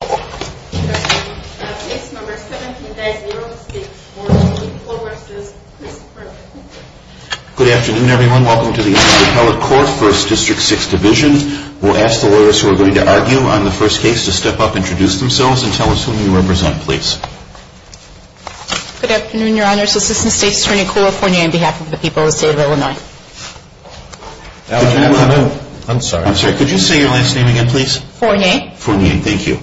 Good afternoon, everyone. Welcome to the Appellate Court, 1st District, 6th Division. We'll ask the lawyers who are going to argue on the first case to step up, introduce themselves, and tell us whom you represent, please. Good afternoon, Your Honors. Assistant State Attorney Cooper Fournier on behalf of the people of the state of Illinois. I'm sorry. I'm sorry. Could you say your last name again, please? Fournier. Fournier. Thank you.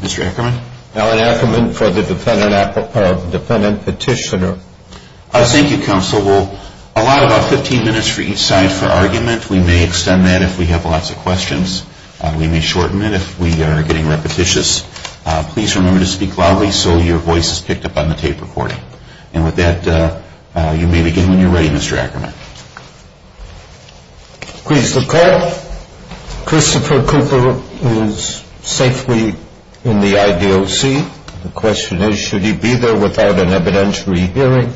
Mr. Ackerman? Alan Ackerman for the Defendant Petitioner. Thank you, Counsel. We'll allow about 15 minutes for each side for argument. We may extend that if we have lots of questions. We may shorten it if we are getting repetitious. Please remember to speak loudly so your voice is picked up on the tape recording. And with that, you may begin when you're ready, Mr. Ackerman. Please, the Court. Christopher Cooper is safely in the I.D.O.C. The question is, should he be there without an evidentiary hearing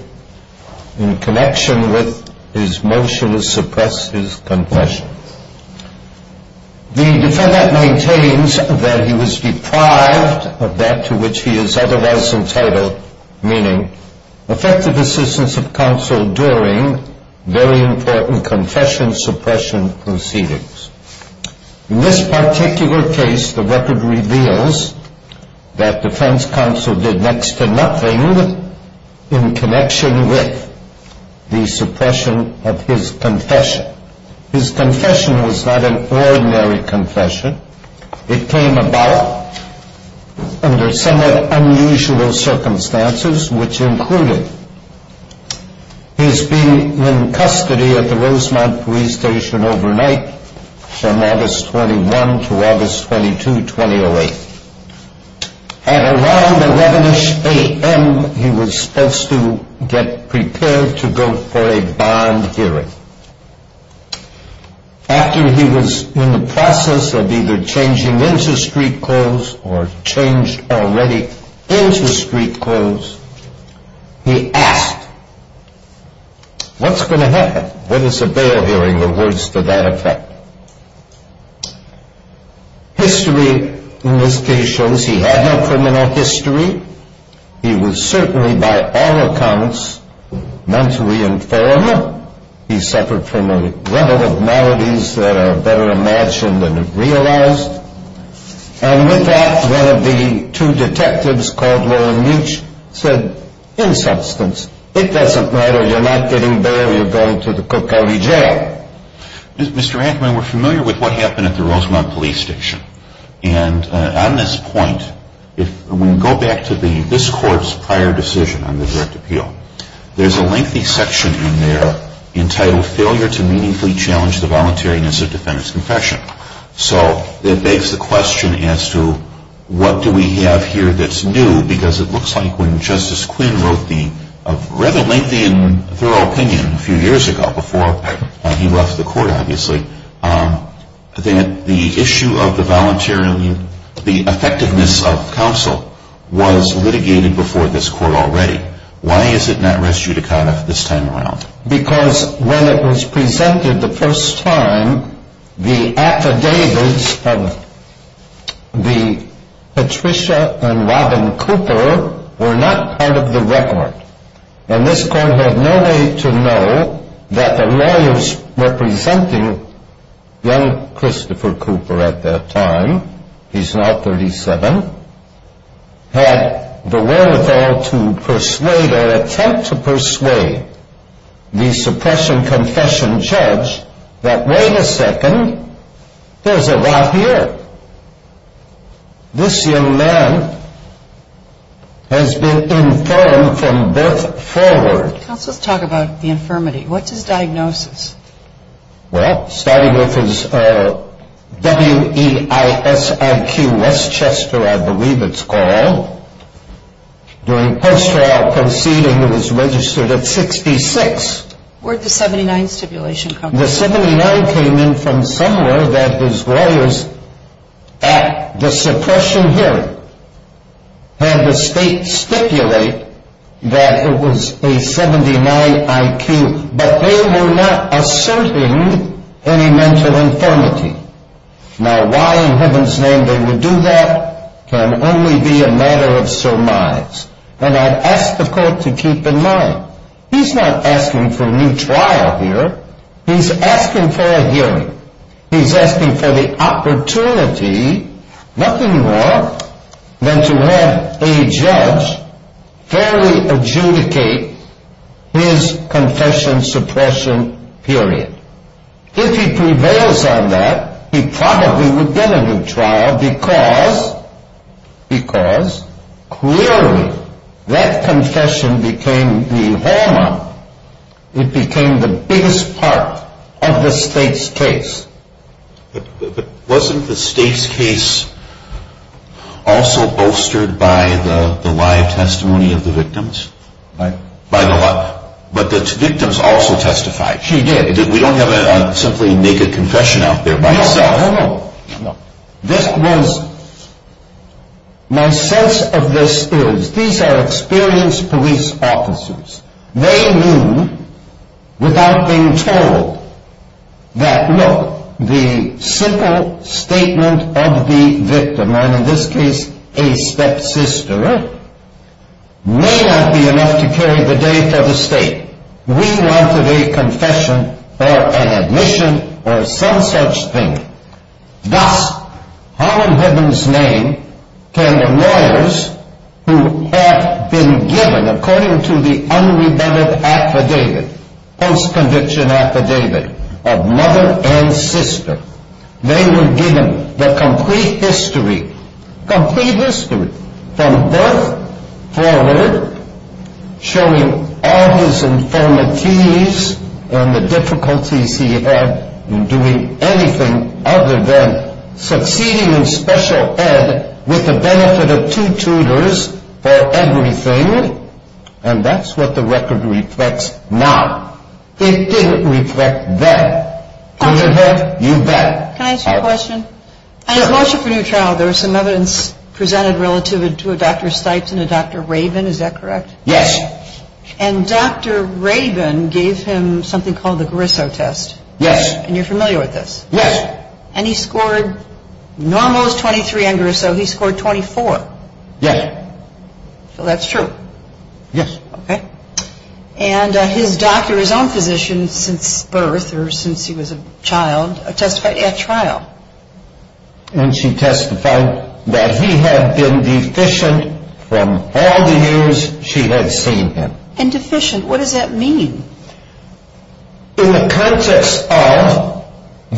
in connection with his motion to suppress his confession? The Defendant maintains that he was deprived of that to which he is otherwise entitled, meaning effective assistance of counsel during very important confession suppression proceedings. In this particular case, the record reveals that defense counsel did next to nothing in connection with the suppression of his confession. His confession was not an ordinary confession. It came about under somewhat unusual circumstances, which included his being in custody at the Rosemount Police Station overnight from August 21 to August 22, 2008. At around 11ish a.m., he was supposed to get prepared to go for a bond hearing. After he was in the process of either changing into street clothes or changed already into street clothes, he asked, What's going to happen? What is a bail hearing? The words to that effect. History in this case shows he had no criminal history. He was certainly, by all accounts, mentally informed. He suffered from a level of maladies that are better imagined and realized. And with that, one of the two detectives called Warren Meech said, In substance, it doesn't matter. You're not getting bail. You're going to the Cook County Jail. Mr. Anthony, we're familiar with what happened at the Rosemount Police Station. And on this point, if we go back to this court's prior decision on the direct appeal, there's a lengthy section in there entitled, Failure to Meaningfully Challenge the Voluntariness of Defendant's Confession. So it begs the question as to what do we have here that's new? Because it looks like when Justice Quinn wrote the rather lengthy and thorough opinion a few years ago before he left the court, obviously, that the issue of the effectiveness of counsel was litigated before this court already. Why is it not res judicata this time around? Because when it was presented the first time, the affidavits of Patricia and Robin Cooper were not part of the record. And this court had no way to know that the lawyers representing young Christopher Cooper at that time, he's now 37, had the wherewithal to persuade or attempt to persuade the suppression confession judge that wait a second, there's a lot here. This young man has been infirmed from birth forward. Counsel, let's talk about the infirmity. What's his diagnosis? Well, starting with his WEISIQ Westchester, I believe it's called. During post-trial proceeding, it was registered at 66. Where'd the 79 stipulation come from? The 79 came in from somewhere that his lawyers at the suppression hearing had the state stipulate that it was a 79 IQ, but they were not asserting any mental infirmity. Now why in heaven's name they would do that can only be a matter of surmise. And I ask the court to keep in mind, he's not asking for a new trial here. He's asking for a hearing. He's asking for the opportunity, nothing more than to have a judge fairly adjudicate his confession suppression period. If he prevails on that, he probably would get a new trial because clearly that confession became the hallmark. It became the biggest part of the state's case. But wasn't the state's case also bolstered by the live testimony of the victims? By the what? But the victims also testified. She did. We don't have a simply make a confession out there by itself. No, no, no. This was, my sense of this is, these are experienced police officers. They knew without being told that look, the simple statement of the victim, and in this case a stepsister, may not be enough to carry the day for the state. We wanted a confession, or an admission, or some such thing. Thus, Harlan Hibben's name came to lawyers who had been given, according to the unrebutted affidavit, post-conviction affidavit of mother and sister, they were given the complete history, complete history, from birth forward, showing all his infirmities and the difficulties he had in doing anything other than succeeding in special ed with the benefit of two tutors for everything. And that's what the record reflects now. It didn't reflect then. Could it have? You bet. Can I ask you a question? I have a motion for new trial. There was some evidence presented relative to a Dr. Stipes and a Dr. Rabin, is that correct? Yes. And Dr. Rabin gave him something called the Grisso test. Yes. And you're familiar with this? Yes. And he scored, normal is 23 on Grisso, he scored 24. Yes. So that's true. Yes. Okay. And his doctor, his own physician, since birth or since he was a child, testified at trial. And she testified that he had been deficient from all the years she had seen him. And deficient, what does that mean? In the context of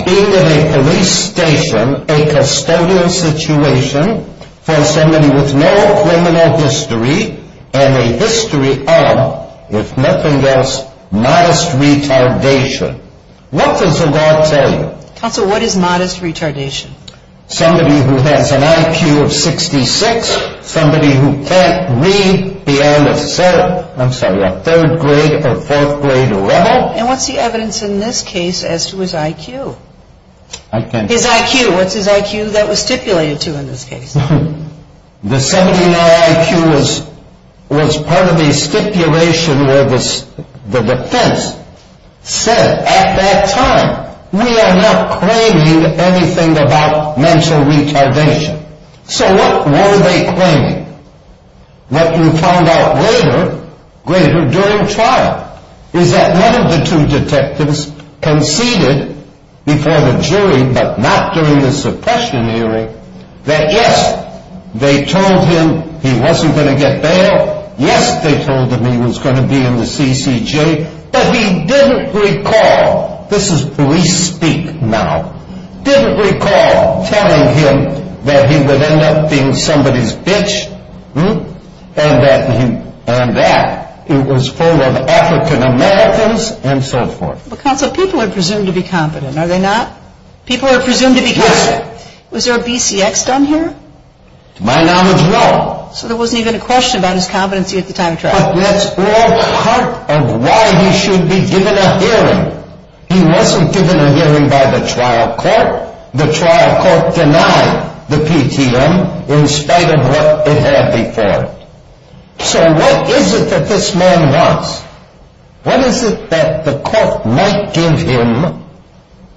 being in a police station, a custodial situation for somebody with no criminal history, and a history of, if nothing else, modest retardation. What does the law tell you? Counsel, what is modest retardation? Somebody who has an IQ of 66, somebody who can't read beyond a third grade or fourth grade level. And what's the evidence in this case as to his IQ? His IQ, what's his IQ that was stipulated to in this case? The 79 IQ was part of a stipulation where the defense said at that time, we are not claiming anything about mental retardation. So what were they claiming? What you found out later, during trial, is that one of the two detectives conceded before the jury, but not during the suppression hearing, that yes, they told him he wasn't going to get bail. Yes, they told him he was going to be in the CCJ. But he didn't recall, this is police speak now, didn't recall telling him that he would end up being somebody's bitch, and that it was full of African Americans, and so forth. Counsel, people are presumed to be competent, are they not? People are presumed to be competent. Yes. Was there a BCX done here? To my knowledge, no. So there wasn't even a question about his competency at the time of trial. But that's all part of why he should be given a hearing. He wasn't given a hearing by the trial court. The trial court denied the PTM in spite of what it had before it. So what is it that this man wants? What is it that the court might give him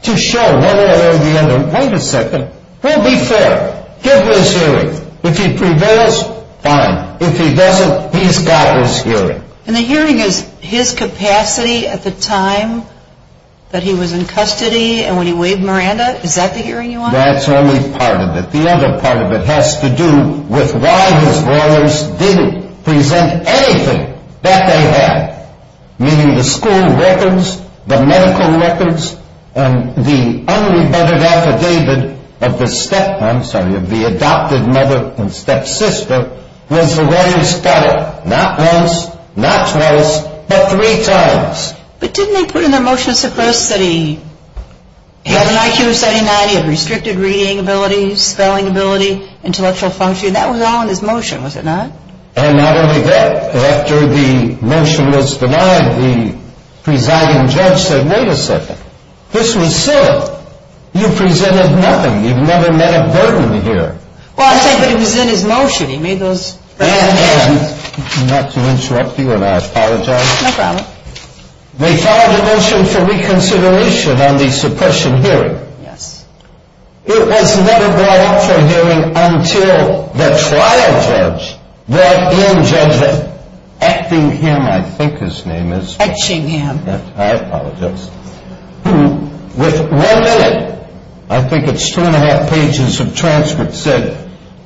to show one way or the other, wait a second, we'll be fair, give him his hearing. If he prevails, fine. If he doesn't, he's got his hearing. And the hearing is his capacity at the time that he was in custody and when he waived Miranda? Is that the hearing you want? That's only part of it. The other part of it has to do with why his lawyers didn't present anything that they had, meaning the school records, the medical records, and the unrebutted affidavit of the adopted mother and stepsister was the way he's got it, not once, not twice, but three times. But didn't they put in their motions at first that he had an IQ of 79, he had restricted reading ability, spelling ability, intellectual function, that was all in his motion, was it not? And not only that. After the motion was denied, the presiding judge said, wait a second, this was silly. You presented nothing. You've never met a burden here. Well, I said, but it was in his motion. He made those recommendations. Not to interrupt you and I apologize. No problem. They filed a motion for reconsideration on the suppression hearing. Yes. It was never brought up for hearing until the trial judge brought in Judge Etchingham, I think his name is. Etchingham. I apologize. With one minute, I think it's two and a half pages of transcripts, said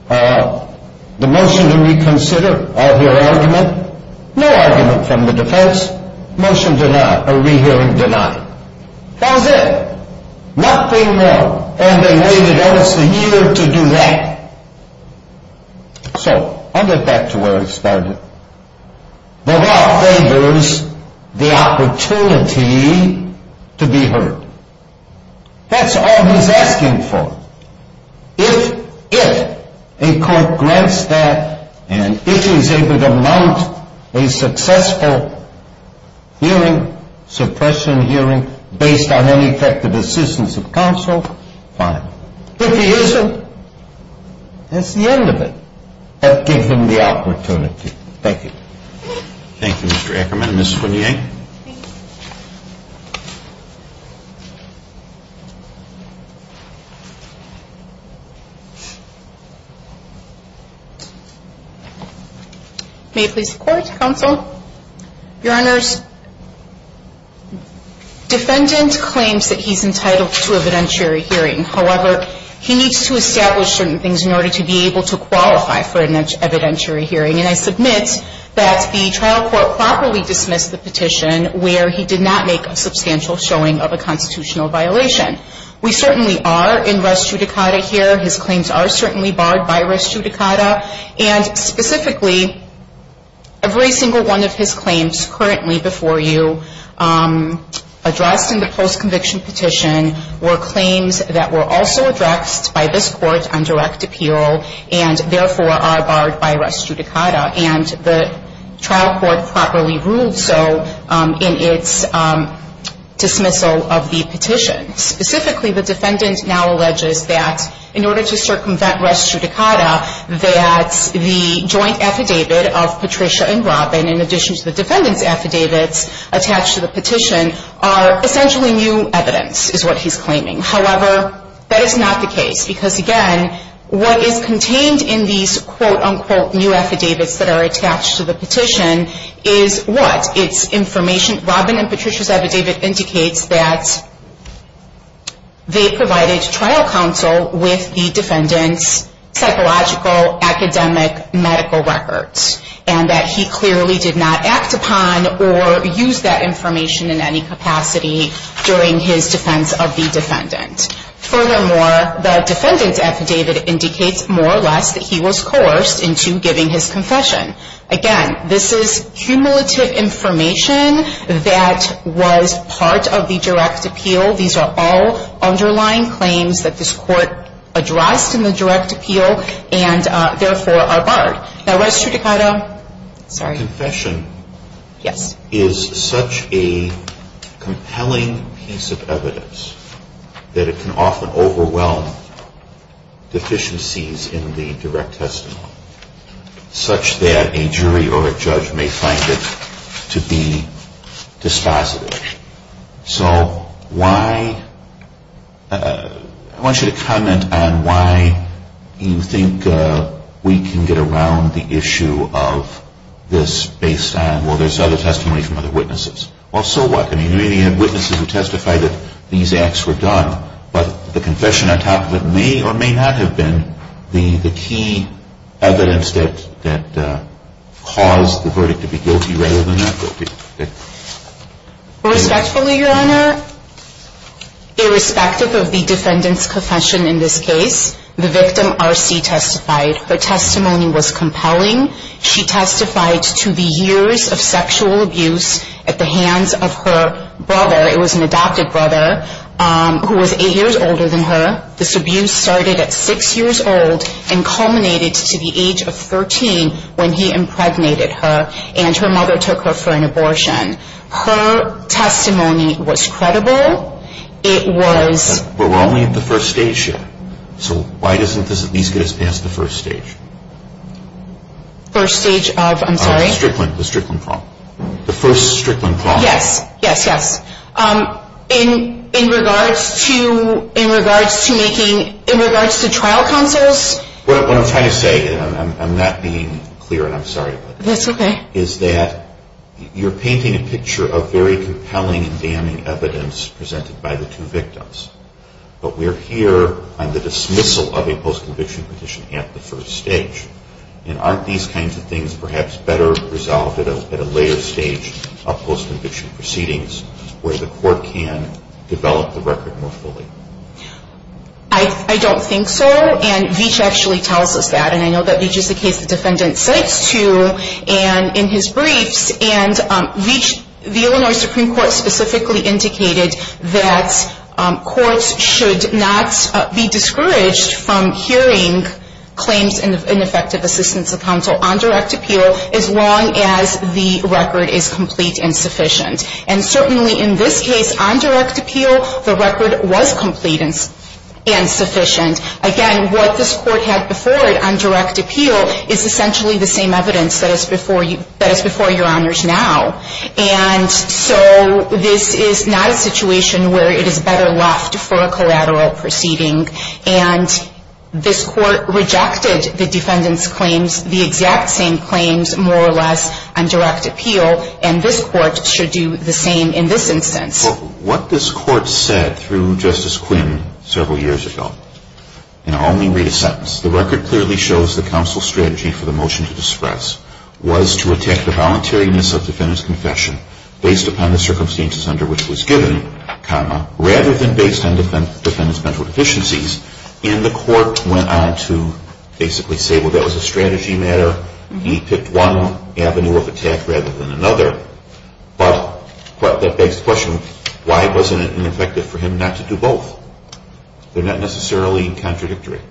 the motion to reconsider, I'll hear argument, no argument from the defense, motion denied, a rehearing denied. That was it. Nothing more. And they waited almost a year to do that. So, I'll get back to where I started. The law favors the opportunity to be heard. That's all he's asking for. If, if a court grants that and if he's able to mount a successful hearing, suppression hearing, based on ineffective assistance of counsel, fine. If he isn't, that's the end of it. But give him the opportunity. Thank you. Thank you, Mr. Ackerman. Ms. Swinney. May I please report, counsel? Your Honors, defendant claims that he's entitled to evidentiary hearing. However, he needs to establish certain things in order to be able to qualify for an evidentiary hearing. And I submit that the trial court properly dismissed the petition where he did not make a substantial showing of a constitutional violation. We certainly are in res judicata here. His claims are certainly barred by res judicata. And specifically, every single one of his claims currently before you, addressed in the post-conviction petition, were claims that were also addressed by this court on direct appeal and therefore are barred by res judicata. And the trial court properly ruled so in its dismissal of the petition. Specifically, the defendant now alleges that in order to circumvent res judicata, that the joint affidavit of Patricia and Robin, in addition to the defendant's affidavits attached to the petition, are essentially new evidence, is what he's claiming. However, that is not the case. Because again, what is contained in these quote-unquote new affidavits that are attached to the petition is what? It's information. Robin and Patricia's affidavit indicates that they provided trial counsel with the defendant's psychological, academic, medical records. And that he clearly did not act upon or use that information in any capacity during his defense of the defendant. Furthermore, the defendant's affidavit indicates more or less that he was coerced into giving his confession. Again, this is cumulative information that was part of the direct appeal. These are all underlying claims that this court addressed in the direct appeal and therefore are barred. Now, res judicata, sorry. Your confession is such a compelling piece of evidence that it can often overwhelm deficiencies in the direct testimony, such that a jury or a judge may find it to be dispositive. So why? I want you to comment on why you think we can get around the issue of this based on, well, there's other testimony from other witnesses. Well, so what? I mean, we have witnesses who testify that these acts were done, but the confession on top of it may or may not have been the key evidence that caused the verdict to be guilty rather than not guilty. Respectfully, Your Honor, irrespective of the defendant's confession in this case, the victim, R.C., testified. Her testimony was compelling. She testified to the years of sexual abuse at the hands of her brother. It was an adopted brother who was eight years older than her. This abuse started at six years old and culminated to the age of 13 when he impregnated her, and her mother took her for an abortion. Her testimony was credible. It was... But we're only at the first stage yet. So why doesn't this at least get us past the first stage? First stage of, I'm sorry? The Strickland problem. The first Strickland problem. Yes, yes, yes. In regards to making, in regards to trial counsels... What I'm trying to say, and I'm not being clear, and I'm sorry about that. That's okay. Is that you're painting a picture of very compelling and damning evidence presented by the two victims. But we're here on the dismissal of a post-conviction petition at the first stage. And aren't these kinds of things perhaps better resolved at a later stage of post-conviction proceedings where the court can develop the record more fully? I don't think so, and Veach actually tells us that. And I know that Veach is the case the defendant cites to in his briefs. And Veach, the Illinois Supreme Court specifically indicated that courts should not be discouraged from hearing claims in effective assistance of counsel on direct appeal as long as the record is complete and sufficient. And certainly in this case, on direct appeal, the record was complete and sufficient. Again, what this court had before it on direct appeal is essentially the same evidence that is before your honors now. And so this is not a situation where it is better left for a collateral proceeding. And this court rejected the defendant's claims, the exact same claims, more or less, on direct appeal, and this court should do the same in this instance. What this court said through Justice Quinn several years ago, and I'll only read a sentence. The record clearly shows the counsel's strategy for the motion to disperse was to attack the voluntariness of the defendant's confession based upon the circumstances under which it was given, rather than based on the defendant's mental deficiencies. And the court went on to basically say, well, that was a strategy matter. He picked one avenue of attack rather than another. But that begs the question, why wasn't it ineffective for him not to do both? They're not necessarily contradictory.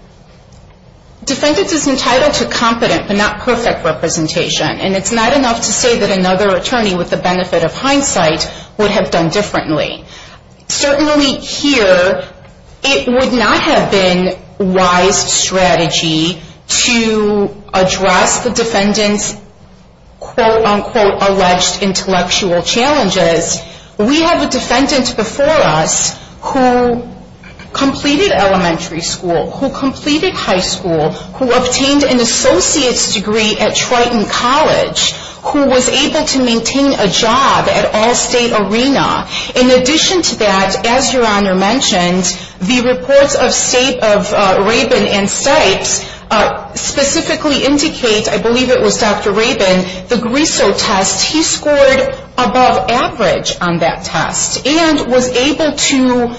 Defendant is entitled to competent but not perfect representation, and it's not enough to say that another attorney with the benefit of hindsight would have done differently. Certainly here, it would not have been wise strategy to address the defendant's quote-unquote alleged intellectual challenges. We have a defendant before us who completed elementary school, who completed high school, who obtained an associate's degree at Triton College, who was able to maintain a job at Allstate Arena. In addition to that, as Your Honor mentioned, the reports of Rabin and Stipes specifically indicate, I believe it was Dr. Rabin, the Grisso test, he scored above average on that test and was able to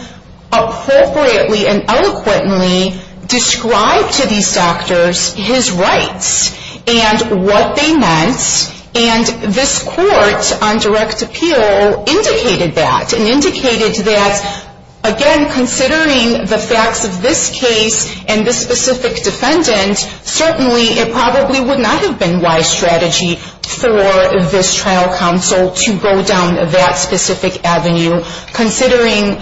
appropriately and eloquently describe to these doctors his rights and what they meant. And this court on direct appeal indicated that and indicated that, again, considering the facts of this case and this specific defendant, certainly it probably would not have been wise strategy for this trial counsel to go down that specific avenue, considering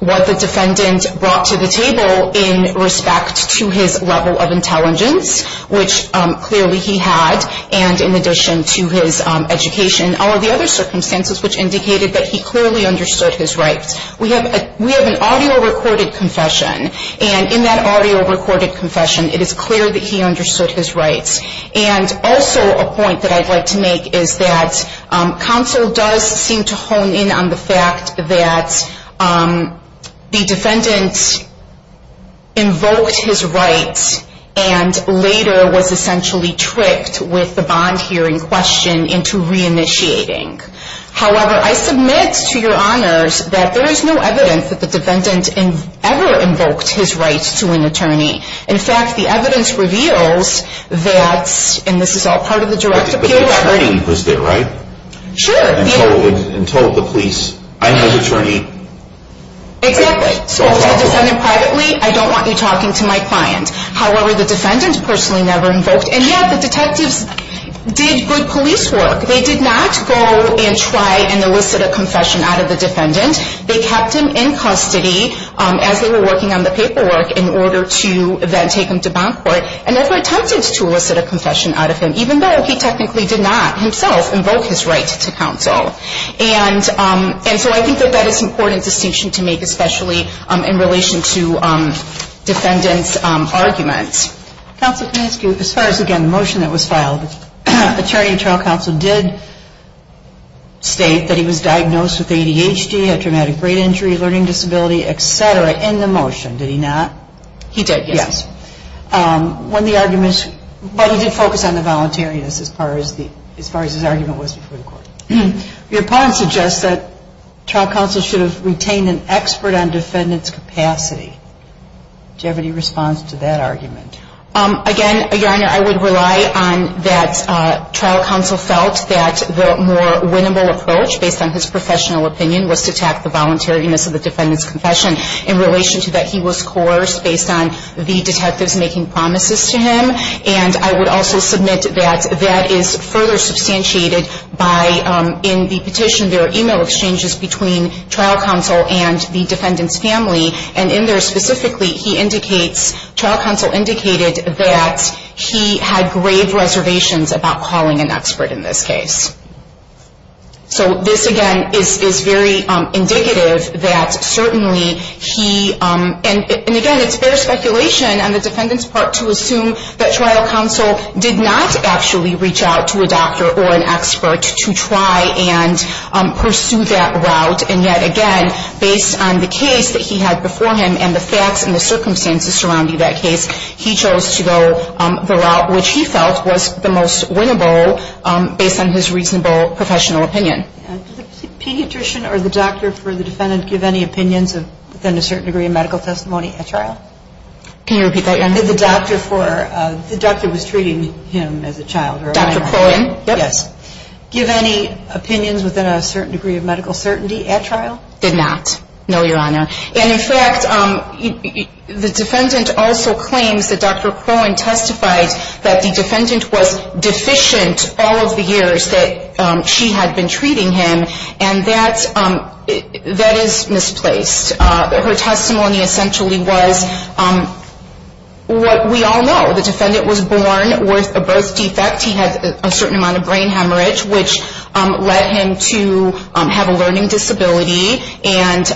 what the defendant brought to the table in respect to his level of intelligence, which clearly he had, and in addition to his education, all of the other circumstances which indicated that he clearly understood his rights. We have an audio recorded confession, and in that audio recorded confession, it is clear that he understood his rights. And also a point that I'd like to make is that counsel does seem to hone in on the fact that the defendant invoked his rights and later was essentially tricked with the bond hearing question into reinitiating. However, I submit to Your Honors that there is no evidence that the defendant ever invoked his rights to an attorney. In fact, the evidence reveals that, and this is all part of the direct appeal record. But the attorney was there, right? Sure. And told the police, I'm your attorney. Exactly. So to the defendant privately, I don't want you talking to my client. However, the defendant personally never invoked, and yet the detectives did good police work. They did not go and try and elicit a confession out of the defendant. They kept him in custody as they were working on the paperwork in order to then take him to bond court and therefore attempted to elicit a confession out of him, even though he technically did not himself invoke his rights to counsel. And so I think that that is an important distinction to make, especially in relation to defendants' arguments. Counsel, can I ask you, as far as, again, the motion that was filed, the Attorney General Counsel did state that he was diagnosed with ADHD, a traumatic brain injury, a learning disability, et cetera, in the motion, did he not? He did, yes. But he did focus on the voluntariness as far as his argument was before the court. Your point suggests that trial counsel should have retained an expert on defendant's capacity. Do you have any response to that argument? Again, Your Honor, I would rely on that trial counsel felt that the more winnable approach, based on his professional opinion, was to attack the voluntariness of the defendant's confession in relation to that he was coerced based on the detectives making promises to him. And I would also submit that that is further substantiated by, in the petition, there are e-mail exchanges between trial counsel and the defendant's family, and in there specifically, trial counsel indicated that he had grave reservations about calling an expert in this case. So this, again, is very indicative that certainly he, and again, it's fair speculation on the defendant's part to assume that trial counsel did not actually reach out to a doctor or an expert to try and pursue that route. And yet, again, based on the case that he had before him and the facts and the circumstances surrounding that case, he chose to go the route which he felt was the most winnable based on his reasonable professional opinion. Did the pediatrician or the doctor for the defendant give any opinions within a certain degree of medical testimony at trial? Can you repeat that, Your Honor? Did the doctor for, the doctor was treating him as a child or a minor? Dr. Crowan, yes. Give any opinions within a certain degree of medical certainty at trial? Did not, no, Your Honor. And in fact, the defendant also claims that Dr. Crowan testified that the defendant was deficient all of the years that she had been treating him, and that is misplaced. Her testimony essentially was what we all know. The defendant was born with a birth defect. He had a certain amount of brain hemorrhage, which led him to have a learning disability, and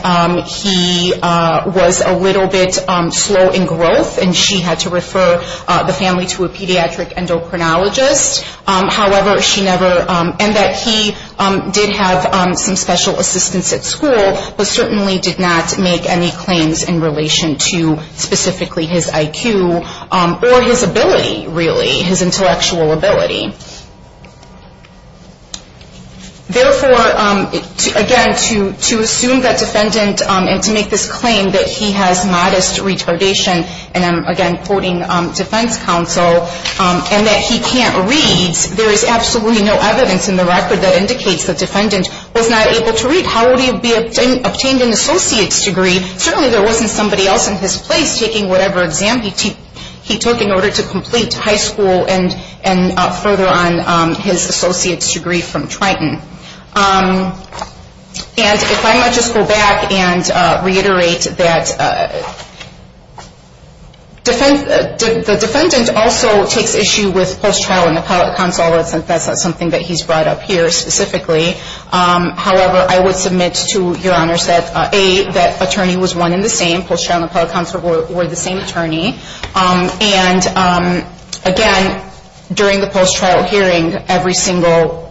he was a little bit slow in growth, and she had to refer the family to a pediatric endocrinologist. However, she never, and that he did have some special assistance at school, but certainly did not make any claims in relation to specifically his IQ or his ability, really, his intellectual ability. Therefore, again, to assume that defendant, and to make this claim that he has modest retardation, and I'm, again, quoting defense counsel, and that he can't read, there is absolutely no evidence in the record that indicates the defendant was not able to read. How would he have obtained an associate's degree? Certainly there wasn't somebody else in his place taking whatever exam he took in order to complete high school and further on his associate's degree from Triton. And if I might just go back and reiterate that the defendant also takes issue with post-trial and appellate counsel, although that's not something that he's brought up here specifically. However, I would submit to Your Honors that, A, that attorney was one and the same, post-trial and appellate counsel were the same attorney, and again, during the post-trial hearing, every single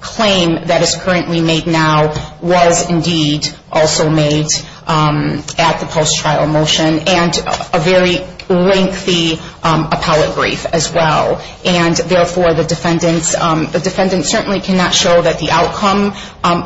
claim that is currently made now was, indeed, also made at the post-trial motion, and a very lengthy appellate brief as well. And, therefore, the defendant certainly cannot show that the outcome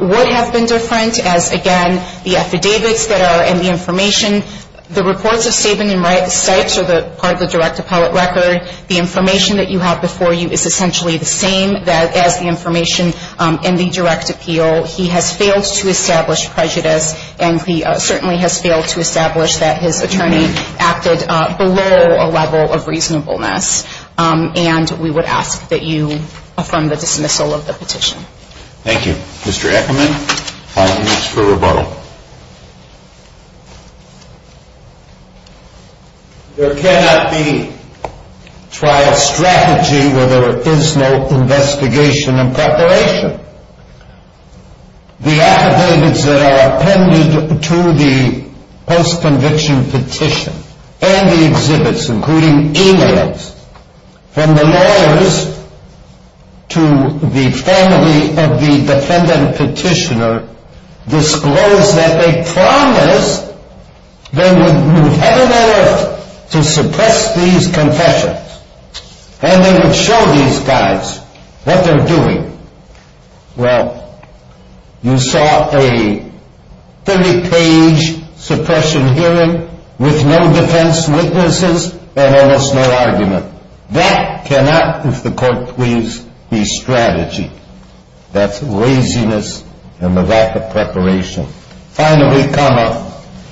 would have been different, as, again, the affidavits that are in the information, the reports of Saban and Stipes are part of the direct appellate record. The information that you have before you is essentially the same as the information in the direct appeal. He has failed to establish prejudice, and he certainly has failed to establish that his attorney acted below a level of reasonableness. And we would ask that you affirm the dismissal of the petition. Thank you. Mr. Ackerman, final notes for rebuttal. There cannot be trial strategy where there is no investigation and preparation. The affidavits that are appended to the post-conviction petition, and the exhibits, including e-mails, from the lawyers to the family of the defendant petitioner, disclose that they promised they would move heaven and earth to suppress these confessions, and they would show these guys what they're doing. Well, you saw a 30-page suppression hearing with no defense witnesses and almost no argument. That cannot, if the court please, be strategy. That's laziness and the lack of preparation. Finally,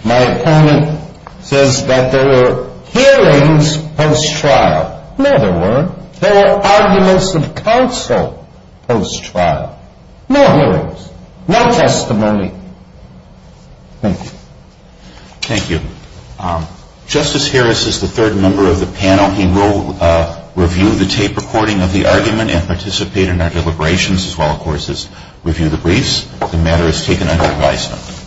my opponent says that there were hearings post-trial. In other words, there were arguments of counsel post-trial. No hearings. No testimony. Thank you. Thank you. Justice Harris is the third member of the panel. He will review the tape recording of the argument and participate in our deliberations, as well, of course, as review the briefs. The matter is taken under advisement.